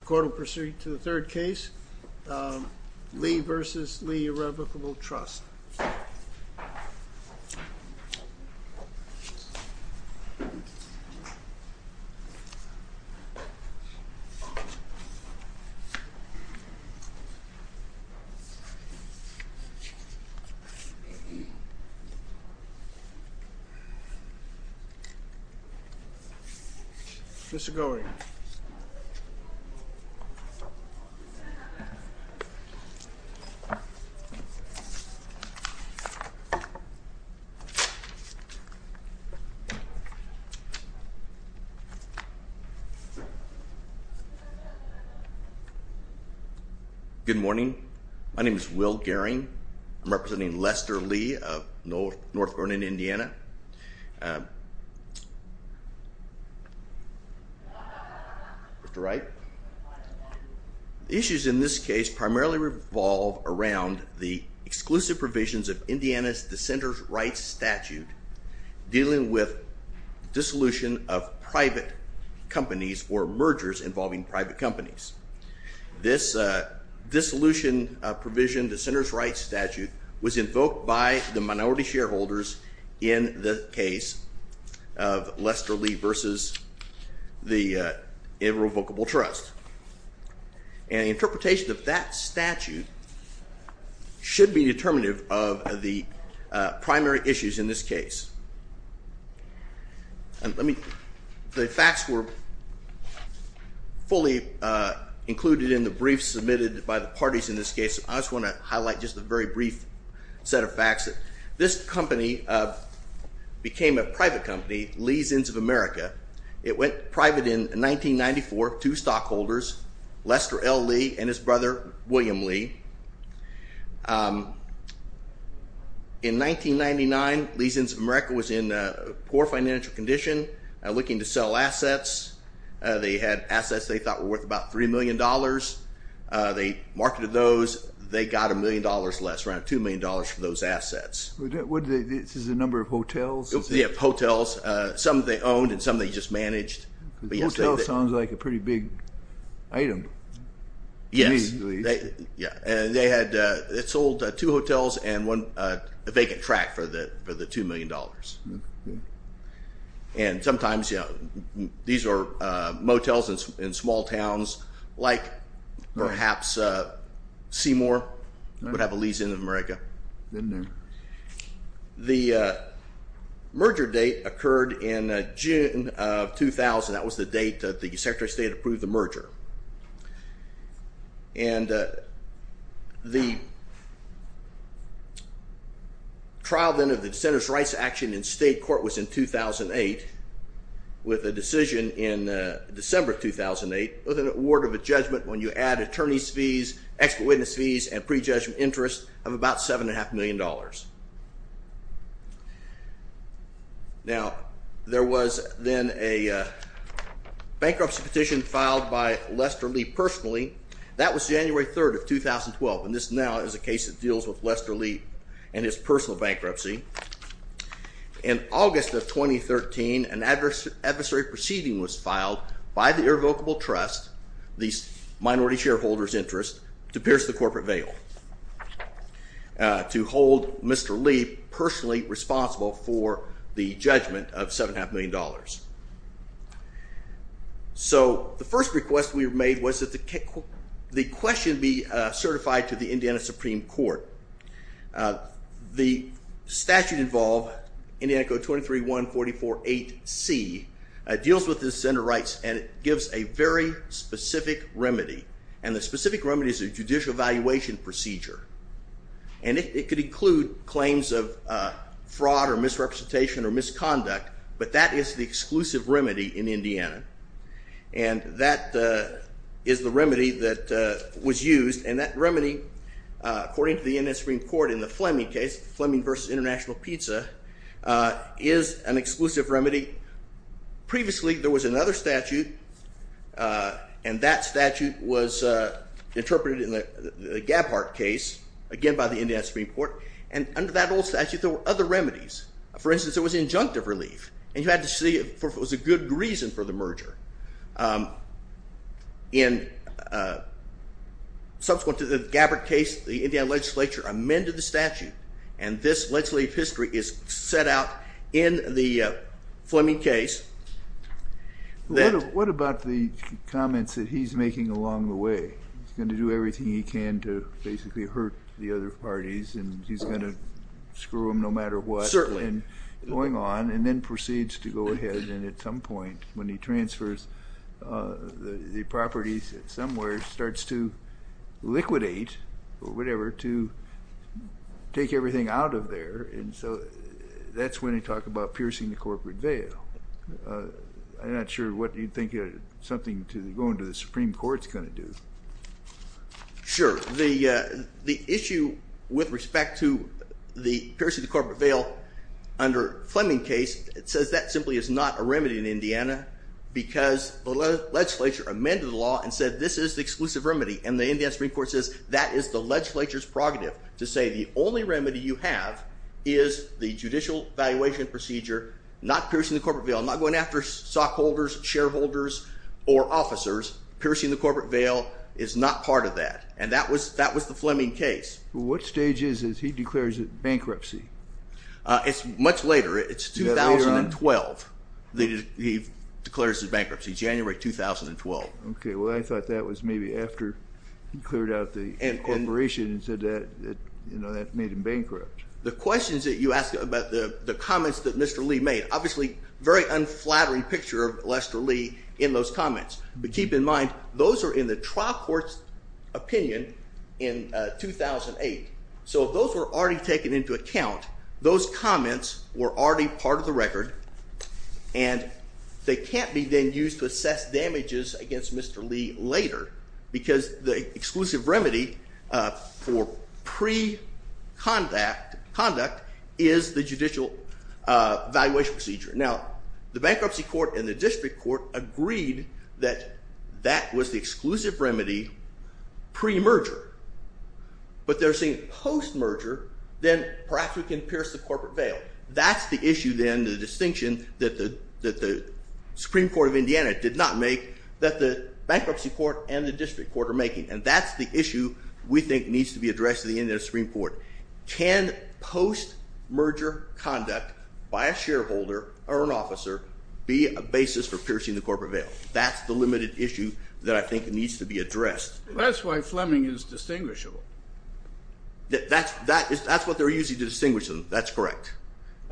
The court will proceed to the third case, Lee v. Lee Irrevocable Trust. Mr. Goering. Good morning. My name is Will Goering. I'm representing Lester Lee of North Northern Indiana. Mr. Wright. The issues in this case primarily revolve around the exclusive provisions of Indiana's dissenters' rights statute dealing with dissolution of private companies or mergers involving private companies. This dissolution provision, dissenters' rights statute, was invoked by the minority shareholders in the case of Lester Lee v. The Irrevocable Trust. And the interpretation of that statute should be determinative of the primary issues in this case. The facts were fully included in the briefs submitted by the parties in this case. I just want to highlight just a very brief set of facts. This company became a private company, Lee's Ends of America. It went private in 1994, two stockholders, Lester L. Lee and his brother, William Lee. In 1999, Lee's Ends of America was in poor financial condition, looking to sell assets. They had assets they thought were worth about $3 million. They marketed those. They got $1 million less, around $2 million for those assets. This is the number of hotels? Yeah, hotels. Some they owned and some they just managed. Hotel sounds like a pretty big item. Yes. And they had sold two hotels and a vacant track for the $2 million. And sometimes these are motels in small towns, like perhaps Seymour would have a Lee's Ends of America. The merger date occurred in June of 2000. That was the date that the Secretary of State approved the merger. And the trial, then, of the dissenters' rights action in state court was in 2008, with a decision in December 2008, with an award of a judgment when you add attorney's fees, expert witness fees, and prejudgment interest of about $7.5 million. Now, there was then a bankruptcy petition filed by Lester Lee personally. That was January 3rd of 2012. And this now is a case that deals with Lester Lee and his personal bankruptcy. In August of 2013, an adversary proceeding was filed by the Irrevocable Trust, these minority shareholders' interests, to pierce the corporate veil, to hold Mr. Lee personally responsible for the judgment of $7.5 million. So, the first request we made was that the question be certified to the Indiana Supreme Court. The statute involved, Indiana Code 23-144-8C, deals with dissenter rights, and it gives a very specific remedy. And the specific remedy is a judicial evaluation procedure. And it could include claims of fraud or misrepresentation or misconduct, but that is the exclusive remedy in Indiana. And that is the remedy that was used. And that remedy, according to the Indiana Supreme Court in the Fleming case, Fleming v. International Pizza, is an exclusive remedy. Previously, there was another statute, and that statute was interpreted in the Gabbard case, again by the Indiana Supreme Court. And under that old statute, there were other remedies. For instance, there was injunctive relief. And you had to see if it was a good reason for the merger. Subsequent to the Gabbard case, the Indiana legislature amended the statute, and this legislative history is set out in the Fleming case. What about the comments that he's making along the way? He's going to do everything he can to basically hurt the other parties, and he's going to screw them no matter what. Certainly. And going on, and then proceeds to go ahead, and at some point, when he transfers the properties somewhere, starts to liquidate, or whatever, to take everything out of there. And so that's when he talked about piercing the corporate veil. I'm not sure what you think something going to the Supreme Court is going to do. Sure. The issue with respect to the piercing the corporate veil under Fleming case, it says that simply is not a remedy in Indiana because the legislature amended the law and said this is the exclusive remedy. And the Indiana Supreme Court says that is the legislature's prerogative to say the only remedy you have is the judicial valuation procedure, not piercing the corporate veil, not going after stockholders, shareholders, or officers. Piercing the corporate veil is not part of that. And that was the Fleming case. What stage is this? He declares it bankruptcy. It's much later. It's 2012. He declares it bankruptcy, January 2012. Okay. Well, I thought that was maybe after he cleared out the corporation and said that made him bankrupt. The questions that you asked about the comments that Mr. Lee made, obviously a very unflattering picture of Lester Lee in those comments. But keep in mind those are in the trial court's opinion in 2008. So if those were already taken into account, those comments were already part of the record, and they can't be then used to assess damages against Mr. Lee later because the exclusive remedy for pre-conduct is the judicial valuation procedure. Now, the bankruptcy court and the district court agreed that that was the exclusive remedy pre-merger. But they're saying post-merger, then perhaps we can pierce the corporate veil. That's the issue then, the distinction, that the Supreme Court of Indiana did not make that the bankruptcy court and the district court are making, and that's the issue we think needs to be addressed in the Supreme Court. Can post-merger conduct by a shareholder or an officer be a basis for piercing the corporate veil? That's the limited issue that I think needs to be addressed. That's why Fleming is distinguishable. That's what they're using to distinguish them. That's correct.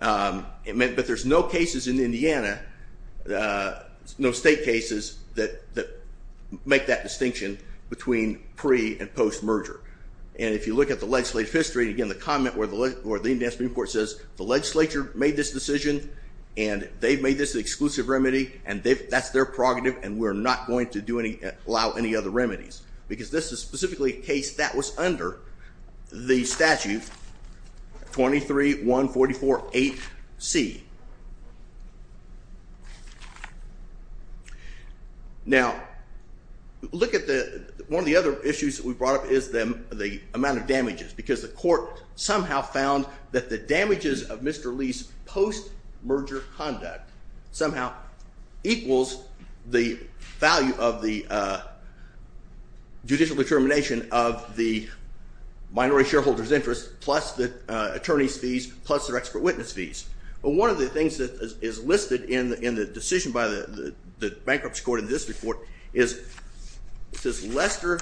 But there's no cases in Indiana, no state cases that make that distinction between pre- and post-merger. And if you look at the legislative history, again, the comment where the Supreme Court says, the legislature made this decision, and they've made this the exclusive remedy, and that's their prerogative, and we're not going to allow any other remedies because this is specifically a case that was under the statute 23-144-8C. Now, look at one of the other issues that we brought up is the amount of damages, because the court somehow found that the damages of Mr. Lee's post-merger conduct somehow equals the value of the judicial determination of the minority shareholder's interest plus the attorney's fees plus their expert witness fees. But one of the things that is listed in the decision by the Bankruptcy Court in this report is, it says Lester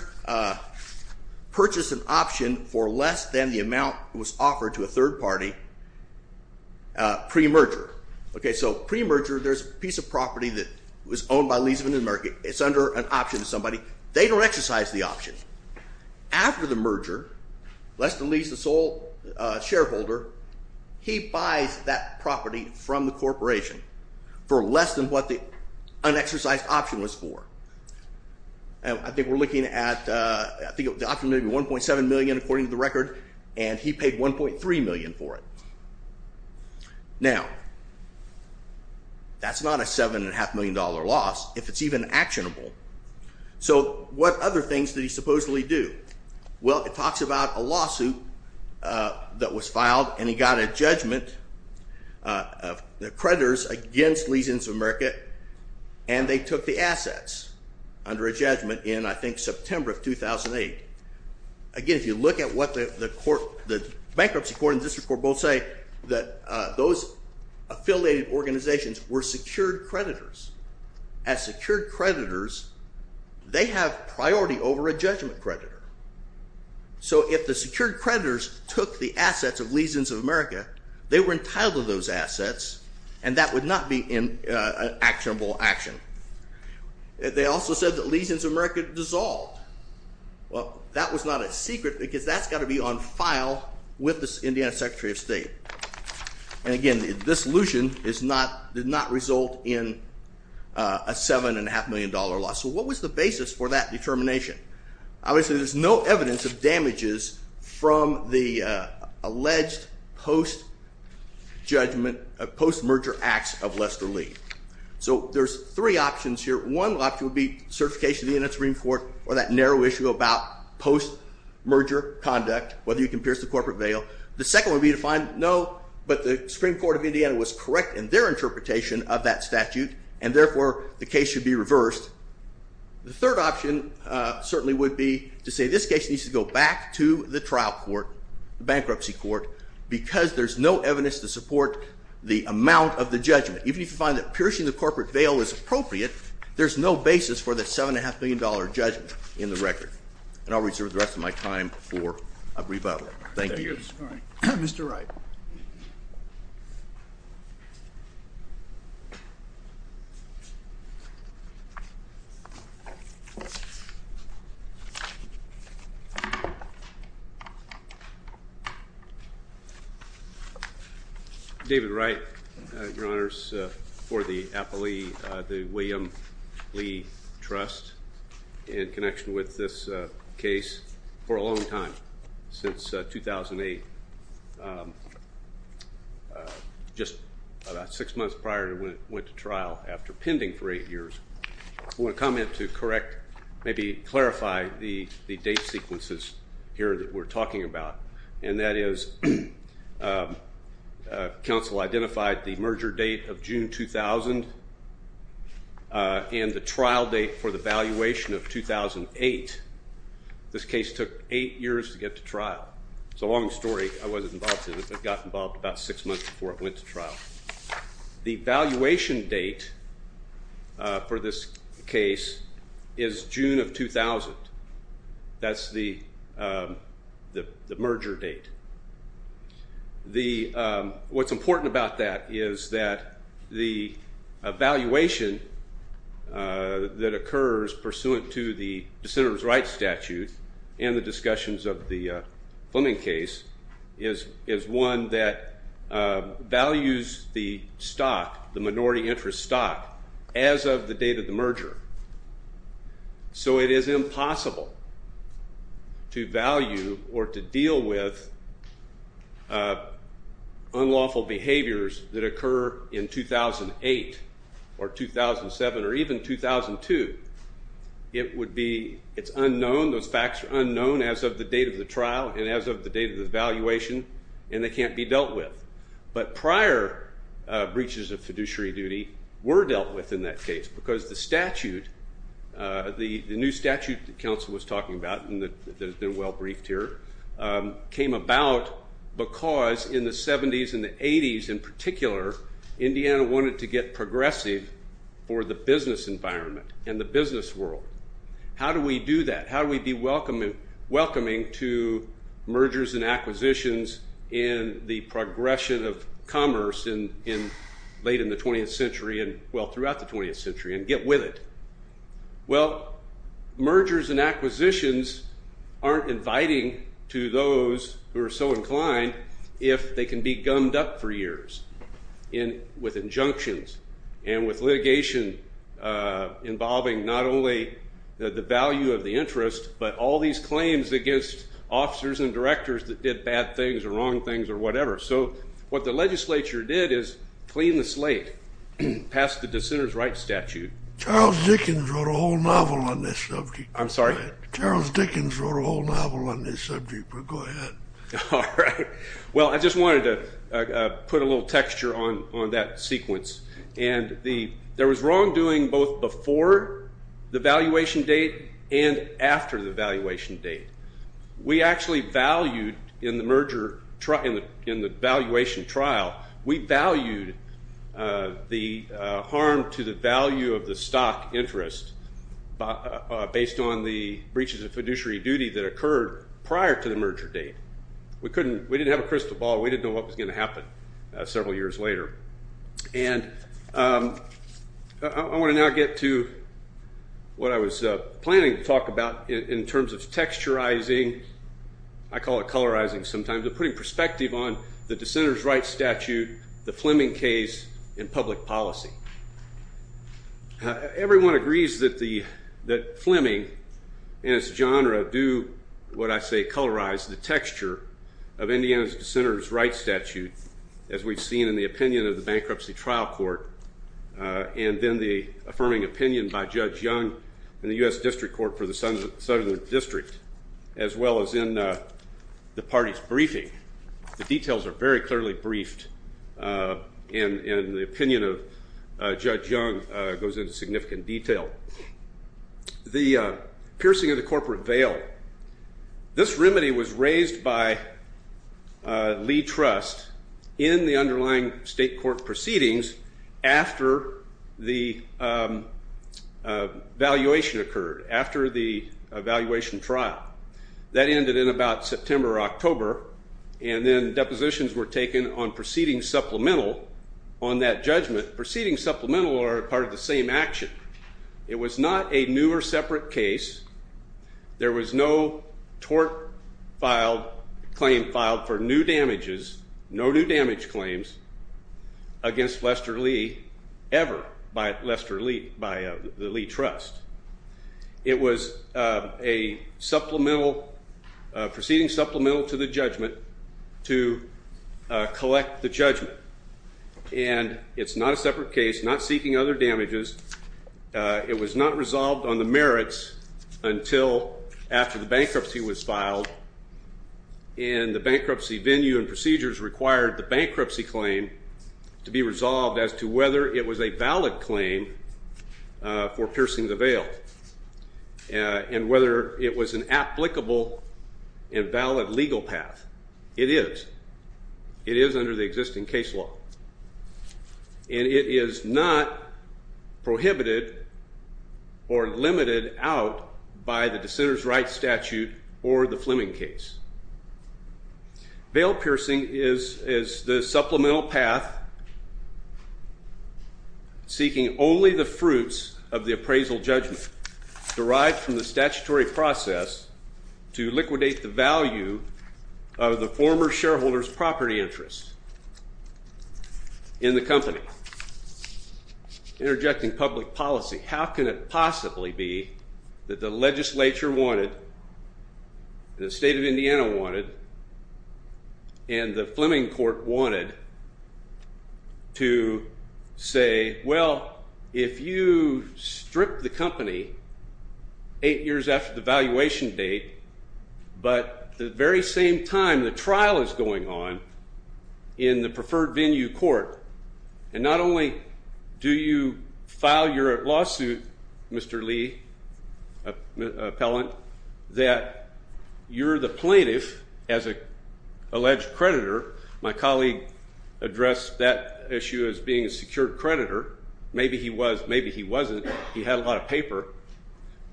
purchased an option for less than the amount was offered to a third party pre-merger. Okay, so pre-merger, there's a piece of property It's under an option to somebody. They don't exercise the option. After the merger, Lester leaves the sole shareholder. He buys that property from the corporation for less than what the unexercised option was for. I think we're looking at, I think the option may be $1.7 million, according to the record, and he paid $1.3 million for it. Now, that's not a $7.5 million loss, if it's even actionable. So what other things did he supposedly do? Well, it talks about a lawsuit that was filed and he got a judgment of the creditors against Leasings of America and they took the assets under a judgment in, I think, September of 2008. Again, if you look at what the Bankruptcy Court and the District Court both say, that those affiliated organizations were secured creditors. As secured creditors, they have priority over a judgment creditor. So if the secured creditors took the assets of Leasings of America, they were entitled to those assets and that would not be an actionable action. They also said that Leasings of America dissolved. Well, that was not a secret because that's got to be on file with the Indiana Secretary of State. And again, this allusion did not result in a $7.5 million loss. So what was the basis for that determination? Obviously, there's no evidence of damages from the alleged post-judgment, post-merger acts of Lester Lee. So there's three options here. One option would be certification of the Indiana Supreme Court or that narrow issue about post-merger conduct, whether you can pierce the corporate veil. The second would be to find, no, but the Supreme Court of Indiana was correct in their interpretation of that statute and therefore the case should be reversed. The third option certainly would be to say this case needs to go back to the trial court, the bankruptcy court, because there's no evidence to support the amount of the judgment. Even if you find that piercing the corporate veil is appropriate, there's no basis for that $7.5 million judgment in the record. And I'll reserve the rest of my time for a rebuttal. Thank you. Mr. Wright. David Wright, Your Honors. For the William Lee Trust, in connection with this case, for a long time, since 2008, just about six months prior to when it went to trial, after pending for eight years, I want to comment to correct, maybe clarify the date sequences here that we're talking about. And that is, counsel identified the merger date of June 2000 and the trial date for the valuation of 2008. This case took eight years to get to trial. It's a long story. I wasn't involved in it, but got involved about six months before it went to trial. The valuation date for this case is June of 2000. That's the merger date. What's important about that is that the valuation that occurs pursuant to the Dissenters' Rights Statute and the discussions of the Fleming case is one that values the stock, the minority interest stock, as of the date of the merger. So it is impossible to value or to deal with unlawful behaviors that occur in 2008 or 2007 or even 2002. It's unknown. Those facts are unknown as of the date of the trial and as of the date of the valuation, and they can't be dealt with. But prior breaches of fiduciary duty were dealt with in that case because the statute, the new statute that counsel was talking about that has been well briefed here, came about because in the 70s and the 80s, in particular, Indiana wanted to get progressive for the business environment and the business world. How do we do that? How do we be welcoming to mergers and acquisitions in the progression of commerce late in the 20th century, well, throughout the 20th century, and get with it? Well, mergers and acquisitions aren't inviting to those who are so inclined if they can be gummed up for years with injunctions and with litigation involving not only the value of the interest but all these claims against officers and directors that did bad things or wrong things or whatever. So what the legislature did is clean the slate past the dissenters' rights statute. Charles Dickens wrote a whole novel on this subject. I'm sorry? Charles Dickens wrote a whole novel on this subject, but go ahead. All right. Well, I just wanted to put a little texture on that sequence. And there was wrongdoing both before the valuation date and after the valuation date. We actually valued in the valuation trial, we valued the harm to the value of the stock interest based on the breaches of fiduciary duty that occurred prior to the merger date. We didn't have a crystal ball. We didn't know what was going to happen several years later. And I want to now get to what I was planning to talk about in terms of texturizing. I call it colorizing sometimes. I'm putting perspective on the dissenters' rights statute, the Fleming case, and public policy. Everyone agrees that Fleming and its genre do what I say colorize the texture of Indiana's dissenters' rights statute, as we've seen in the opinion of the Bankruptcy Trial Court and then the affirming opinion by Judge Young in the U.S. District Court for the Southern District, as well as in the party's briefing. The details are very clearly briefed and the opinion of Judge Young goes into significant detail. The piercing of the corporate veil. This remedy was raised by Lee Trust in the underlying state court proceedings after the valuation occurred, after the valuation trial. That ended in about September or October, and then depositions were taken on proceeding supplemental on that judgment. Proceeding supplemental are part of the same action. It was not a new or separate case. There was no tort claim filed for new damages, no new damage claims, against Lester Lee ever by the Lee Trust. It was a proceeding supplemental to the judgment to collect the judgment. And it's not a separate case, not seeking other damages. It was not resolved on the merits until after the bankruptcy was filed, and the bankruptcy venue and procedures required the bankruptcy claim to be resolved as to whether it was a valid claim for piercing the veil and whether it was an applicable and valid legal path. It is. It is under the existing case law. And it is not prohibited or limited out by the dissenter's rights statute or the Fleming case. Veil piercing is the supplemental path seeking only the fruits of the appraisal judgment derived from the statutory process to liquidate the value of the former shareholder's property interest in the company, interjecting public policy. How can it possibly be that the legislature wanted and the state of Indiana wanted and the Fleming court wanted to say, well, if you strip the company eight years after the valuation date, but the very same time the trial is going on in the preferred venue court, and not only do you Mr. Lee, appellant, that you're the plaintiff as an alleged creditor. My colleague addressed that issue as being a secured creditor. Maybe he was. Maybe he wasn't. He had a lot of paper.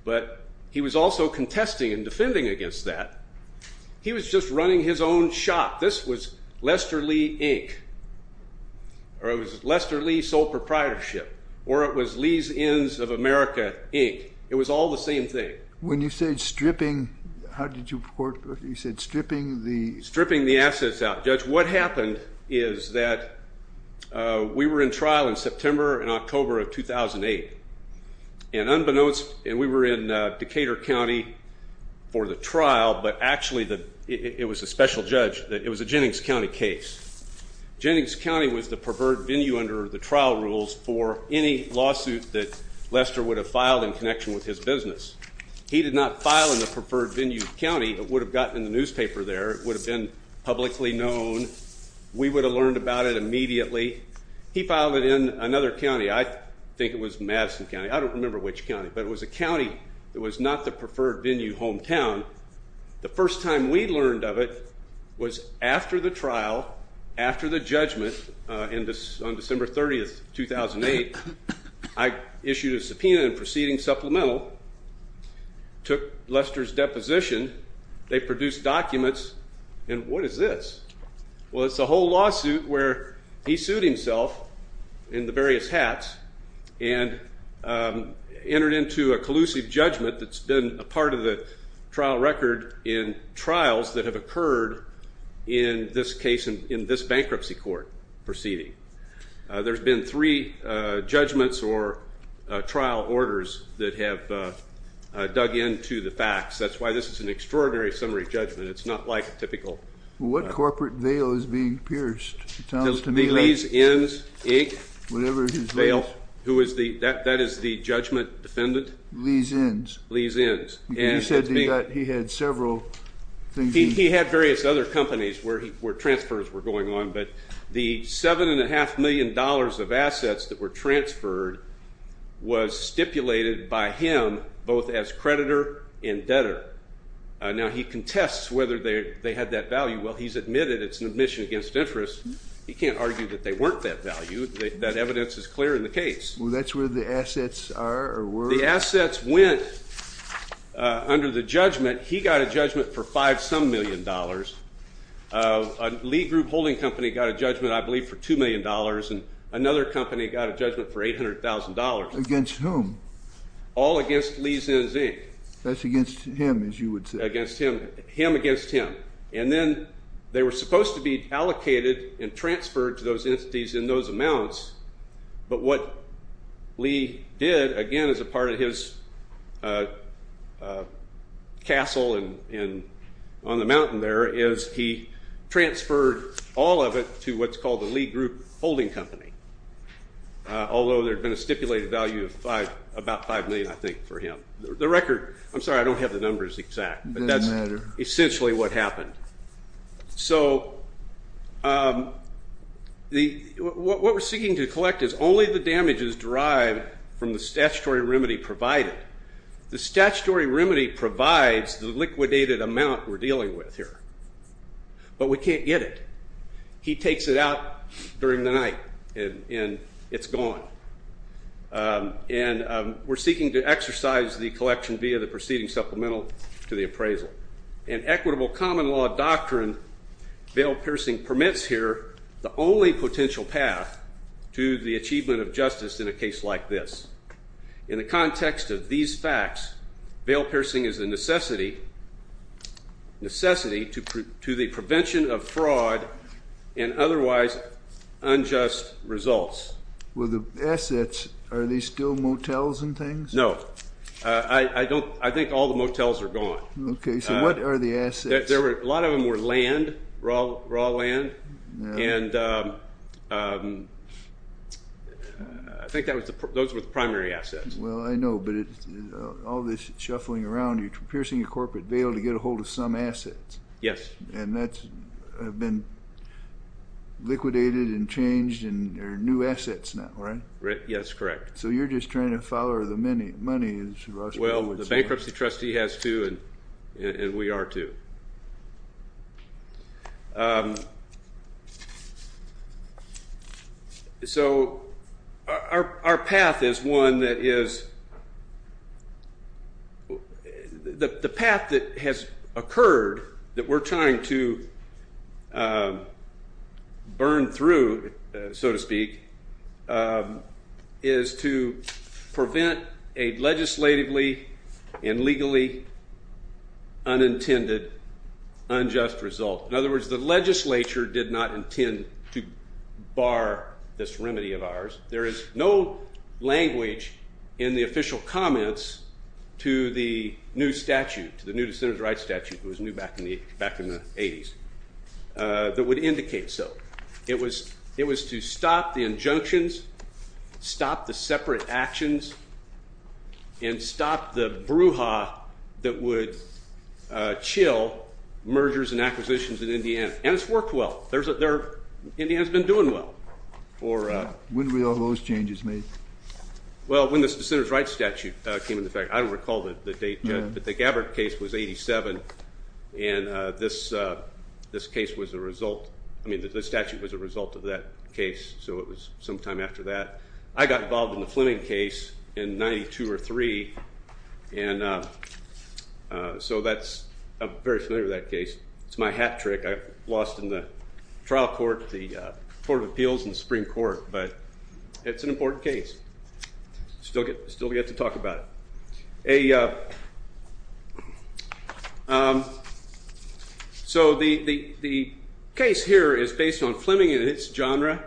But he was also contesting and defending against that. He was just running his own shop. This was Lester Lee, Inc. Or it was Lester Lee Sole Proprietorship. Or it was Lee's Ends of America, Inc. It was all the same thing. When you said stripping, how did you report? You said stripping the assets out. Judge, what happened is that we were in trial in September and October of 2008. And unbeknownst, and we were in Decatur County for the trial, but actually it was a special judge. It was a Jennings County case. Jennings County was the preferred venue under the trial rules for any lawsuit that Lester would have filed in connection with his business. He did not file in the preferred venue county. It would have gotten in the newspaper there. It would have been publicly known. We would have learned about it immediately. He filed it in another county. I think it was Madison County. I don't remember which county. But it was a county that was not the preferred venue hometown. The first time we learned of it was after the trial, after the judgment on December 30, 2008. I issued a subpoena and proceeding supplemental, took Lester's deposition. They produced documents. And what is this? Well, it's a whole lawsuit where he sued himself in the various hats and entered into a collusive judgment that's been a part of the trial record in trials that have occurred in this case, in this bankruptcy court proceeding. There's been three judgments or trial orders that have dug into the facts. That's why this is an extraordinary summary judgment. It's not like a typical. What corporate veil is being pierced? It sounds to me like. The Lee's Inns, Inc. Whatever his name is. Veil. That is the judgment defendant. Lee's Inns. Lee's Inns. You said that he had several things. He had various other companies where transfers were going on. But the $7.5 million of assets that were transferred was stipulated by him both as creditor and debtor. Now, he contests whether they had that value. Well, he's admitted it's an admission against interest. He can't argue that they weren't that value. That evidence is clear in the case. Well, that's where the assets are or were? The assets went under the judgment. He got a judgment for $5 some million. A Lee Group holding company got a judgment, I believe, for $2 million. And another company got a judgment for $800,000. Against whom? All against Lee's Inns, Inc. That's against him, as you would say. Against him. Him against him. And then they were supposed to be allocated and transferred to those entities in those amounts. But what Lee did, again, as a part of his castle and on the mountain there, is he transferred all of it to what's called the Lee Group holding company. Although there had been a stipulated value of about $5 million, I think, for him. The record, I'm sorry, I don't have the numbers exact. Doesn't matter. But that's essentially what happened. So what we're seeking to collect is only the damages derived from the statutory remedy provided. The statutory remedy provides the liquidated amount we're dealing with here. But we can't get it. He takes it out during the night, and it's gone. And we're seeking to exercise the collection via the preceding supplemental to the appraisal. In equitable common law doctrine, veil-piercing permits here the only potential path to the achievement of justice in a case like this. In the context of these facts, veil-piercing is a necessity to the prevention of fraud and otherwise unjust results. With the assets, are they still motels and things? No. I think all the motels are gone. Okay. So what are the assets? A lot of them were land, raw land. And I think those were the primary assets. Well, I know, but all this shuffling around, you're piercing a corporate veil to get a hold of some assets. Yes. And that's been liquidated and changed, and there are new assets now, right? Yes, correct. So you're just trying to follow the money. Well, the bankruptcy trustee has two, and we are too. So our path is one that is the path that has occurred that we're trying to burn through, so to speak, is to prevent a legislatively and legally unintended unjust result. In other words, the legislature did not intend to bar this remedy of ours. There is no language in the official comments to the new statute, to the new dissenters' rights statute that was new back in the 80s, that would indicate so. It was to stop the injunctions, stop the separate actions, and stop the brouhaha that would chill mergers and acquisitions in Indiana. And it's worked well. Indiana has been doing well. When were all those changes made? Well, when the dissenters' rights statute came into effect. I don't recall the date, but the Gabbard case was 87, and this case was the result. I mean, the statute was a result of that case, so it was sometime after that. I got involved in the Fleming case in 92 or 3, and so I'm very familiar with that case. It's my hat trick. I lost in the trial court, the Court of Appeals, and the Supreme Court, but it's an important case. Still get to talk about it. So the case here is based on Fleming and its genre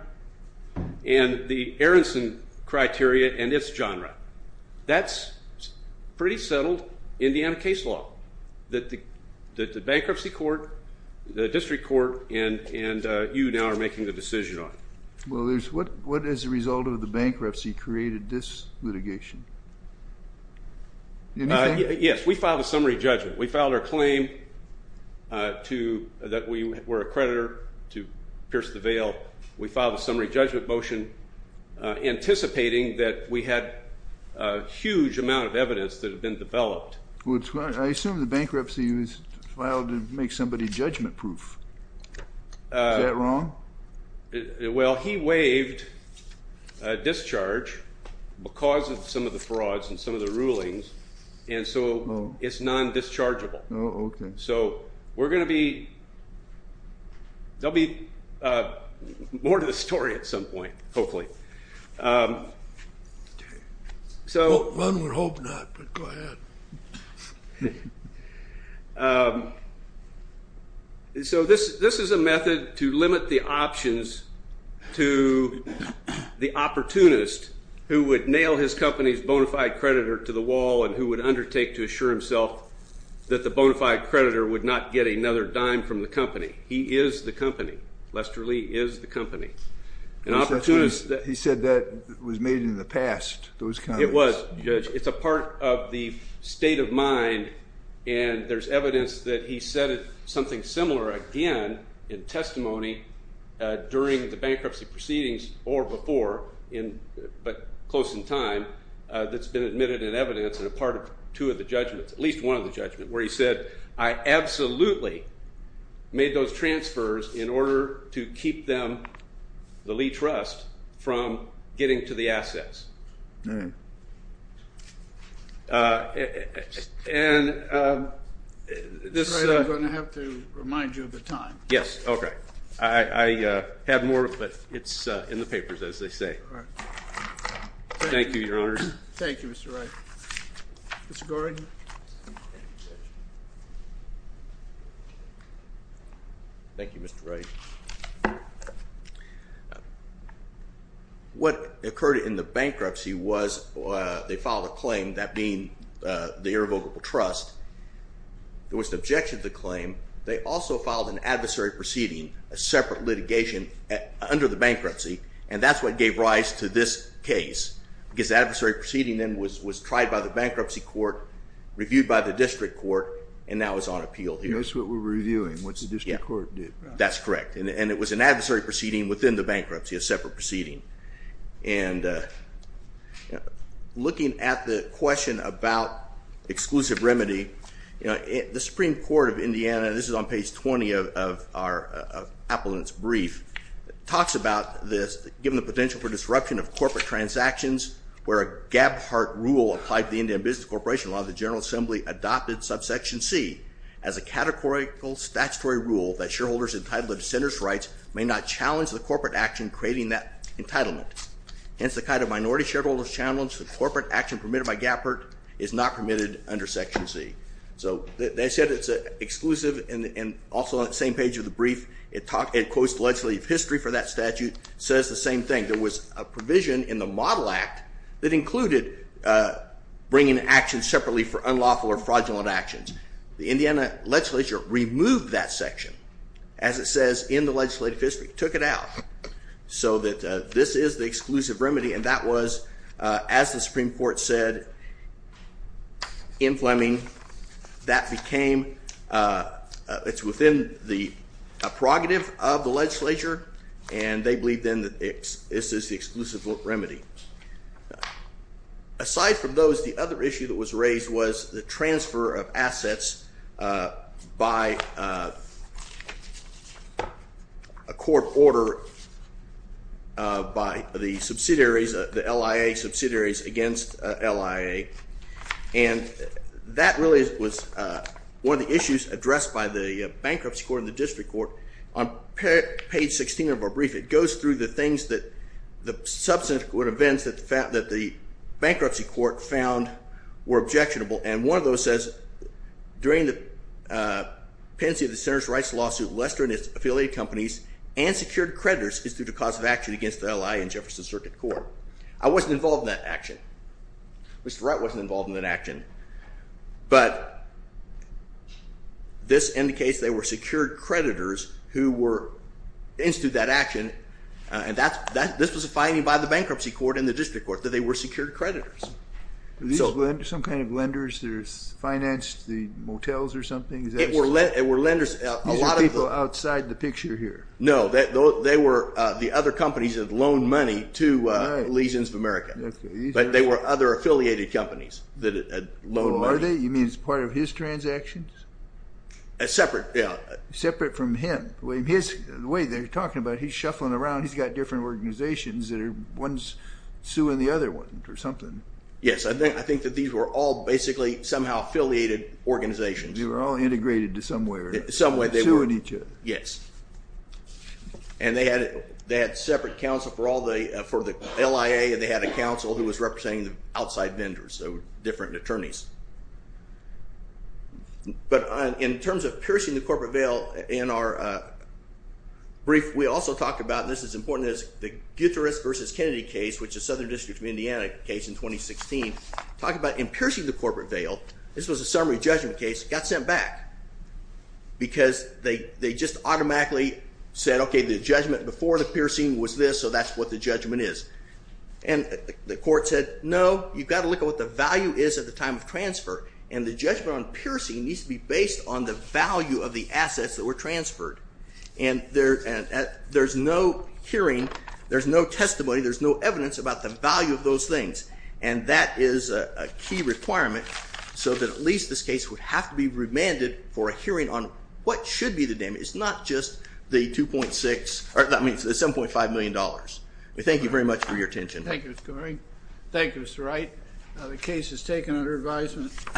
and the Aronson criteria and its genre. That's pretty settled Indiana case law that the bankruptcy court, the district court, and you now are making the decision on. Well, what is the result of the bankruptcy created this litigation? Yes, we filed a summary judgment. We filed our claim that we were a creditor to Pierce v. Vail. We filed a summary judgment motion anticipating that we had a huge amount of evidence that had been developed. I assume the bankruptcy was filed to make somebody judgment-proof. Is that wrong? Well, he waived discharge because of some of the frauds and some of the rulings, and so it's non-dischargeable. Oh, okay. So there will be more to the story at some point, hopefully. Run or hope not, but go ahead. So this is a method to limit the options to the opportunist who would nail his company's bona fide creditor to the wall and who would undertake to assure himself that the bona fide creditor would not get another dime from the company. He is the company. Lester Lee is the company. He said that was made in the past. It was. It's a part of the state of mind, and there's evidence that he said something similar again in testimony during the bankruptcy proceedings or before, but close in time, that's been admitted in evidence and a part of two of the judgments, at least one of the judgments, where he said, I absolutely made those transfers in order to keep them, the Lee Trust, from getting to the assets. And this is a. I'm going to have to remind you of the time. Yes. Okay. I have more, but it's in the papers, as they say. All right. Thank you, Your Honors. Thank you, Mr. Wright. Mr. Gordon. Thank you, Mr. Wright. What occurred in the bankruptcy was they filed a claim, that being the irrevocable trust. There was an objection to the claim. They also filed an adversary proceeding, a separate litigation under the bankruptcy, and that's what gave rise to this case, because the adversary proceeding then was tried by the bankruptcy court, reviewed by the district court, and now it's on appeal here. That's what we're reviewing, what the district court did. That's correct. And it was an adversary proceeding within the bankruptcy, a separate proceeding. Looking at the question about exclusive remedy, the Supreme Court of Indiana, and this is on page 20 of Appellant's brief, talks about this, given the potential for disruption of corporate transactions, where a Gaphart rule applied to the Indian Business Corporation Law, the General Assembly adopted subsection C as a categorical statutory rule that shareholders entitled to dissenters' rights may not challenge the corporate action creating that entitlement. Hence, the kind of minority shareholders challenge the corporate action permitted by Gaphart is not permitted under section C. So they said it's exclusive, and also on the same page of the brief, it quotes the legislative history for that statute, says the same thing. There was a provision in the Model Act that included bringing action separately for unlawful or fraudulent actions. The Indiana legislature removed that section, as it says in the legislative history, took it out, so that this is the exclusive remedy, and that was, as the Supreme Court said in Fleming, that became, it's within the prerogative of the legislature, and they believed then that this is the exclusive remedy. Aside from those, the other issue that was raised was the transfer of assets by a court order by the subsidiaries, the LIA subsidiaries against LIA, and that really was one of the issues addressed by the Bankruptcy Court and the District Court. On page 16 of our brief, it goes through the things that, the subsequent events that the Bankruptcy Court found were objectionable, and one of those says, during the pendency of the Centers for Rights lawsuit, Lester and his affiliate companies and secured creditors instituted a cause of action against the LIA and Jefferson Circuit Court. I wasn't involved in that action. Mr. Wright wasn't involved in that action, but this indicates they were secured creditors who instituted that action, and this was a finding by the Bankruptcy Court and the District Court, that they were secured creditors. Were these some kind of lenders that financed the motels or something? It were lenders. These are people outside the picture here. No, they were the other companies that had loaned money to Lesions of America, but they were other affiliated companies that had loaned money. Oh, are they? You mean as part of his transactions? Separate, yeah. Separate from him. The way they're talking about it, he's shuffling around, he's got different organizations that are, one's suing the other one or something. Yes, I think that these were all basically somehow affiliated organizations. They were all integrated to some way or another. Some way they were. Suing each other. Yes. And they had separate counsel for the LIA, and they had a counsel who was representing the outside vendors, so different attorneys. But in terms of piercing the corporate veil, in our brief we also talk about, this is important, the Gutierrez versus Kennedy case, which is Southern District of Indiana case in 2016, talk about in piercing the corporate veil, this was a summary judgment case, got sent back because they just automatically said, okay, the judgment before the piercing was this, so that's what the judgment is. And the court said, no, you've got to look at what the value is at the time of transfer, and the judgment on piercing needs to be based on the value of the assets that were transferred. And there's no hearing, there's no testimony, there's no evidence about the value of those things. And that is a key requirement, so that at least this case would have to be remanded for a hearing on what should be the damage. It's not just the $7.5 million. We thank you very much for your attention. Thank you, Mr. Goering. Thank you, Mr. Wright. The case is taken under advisement.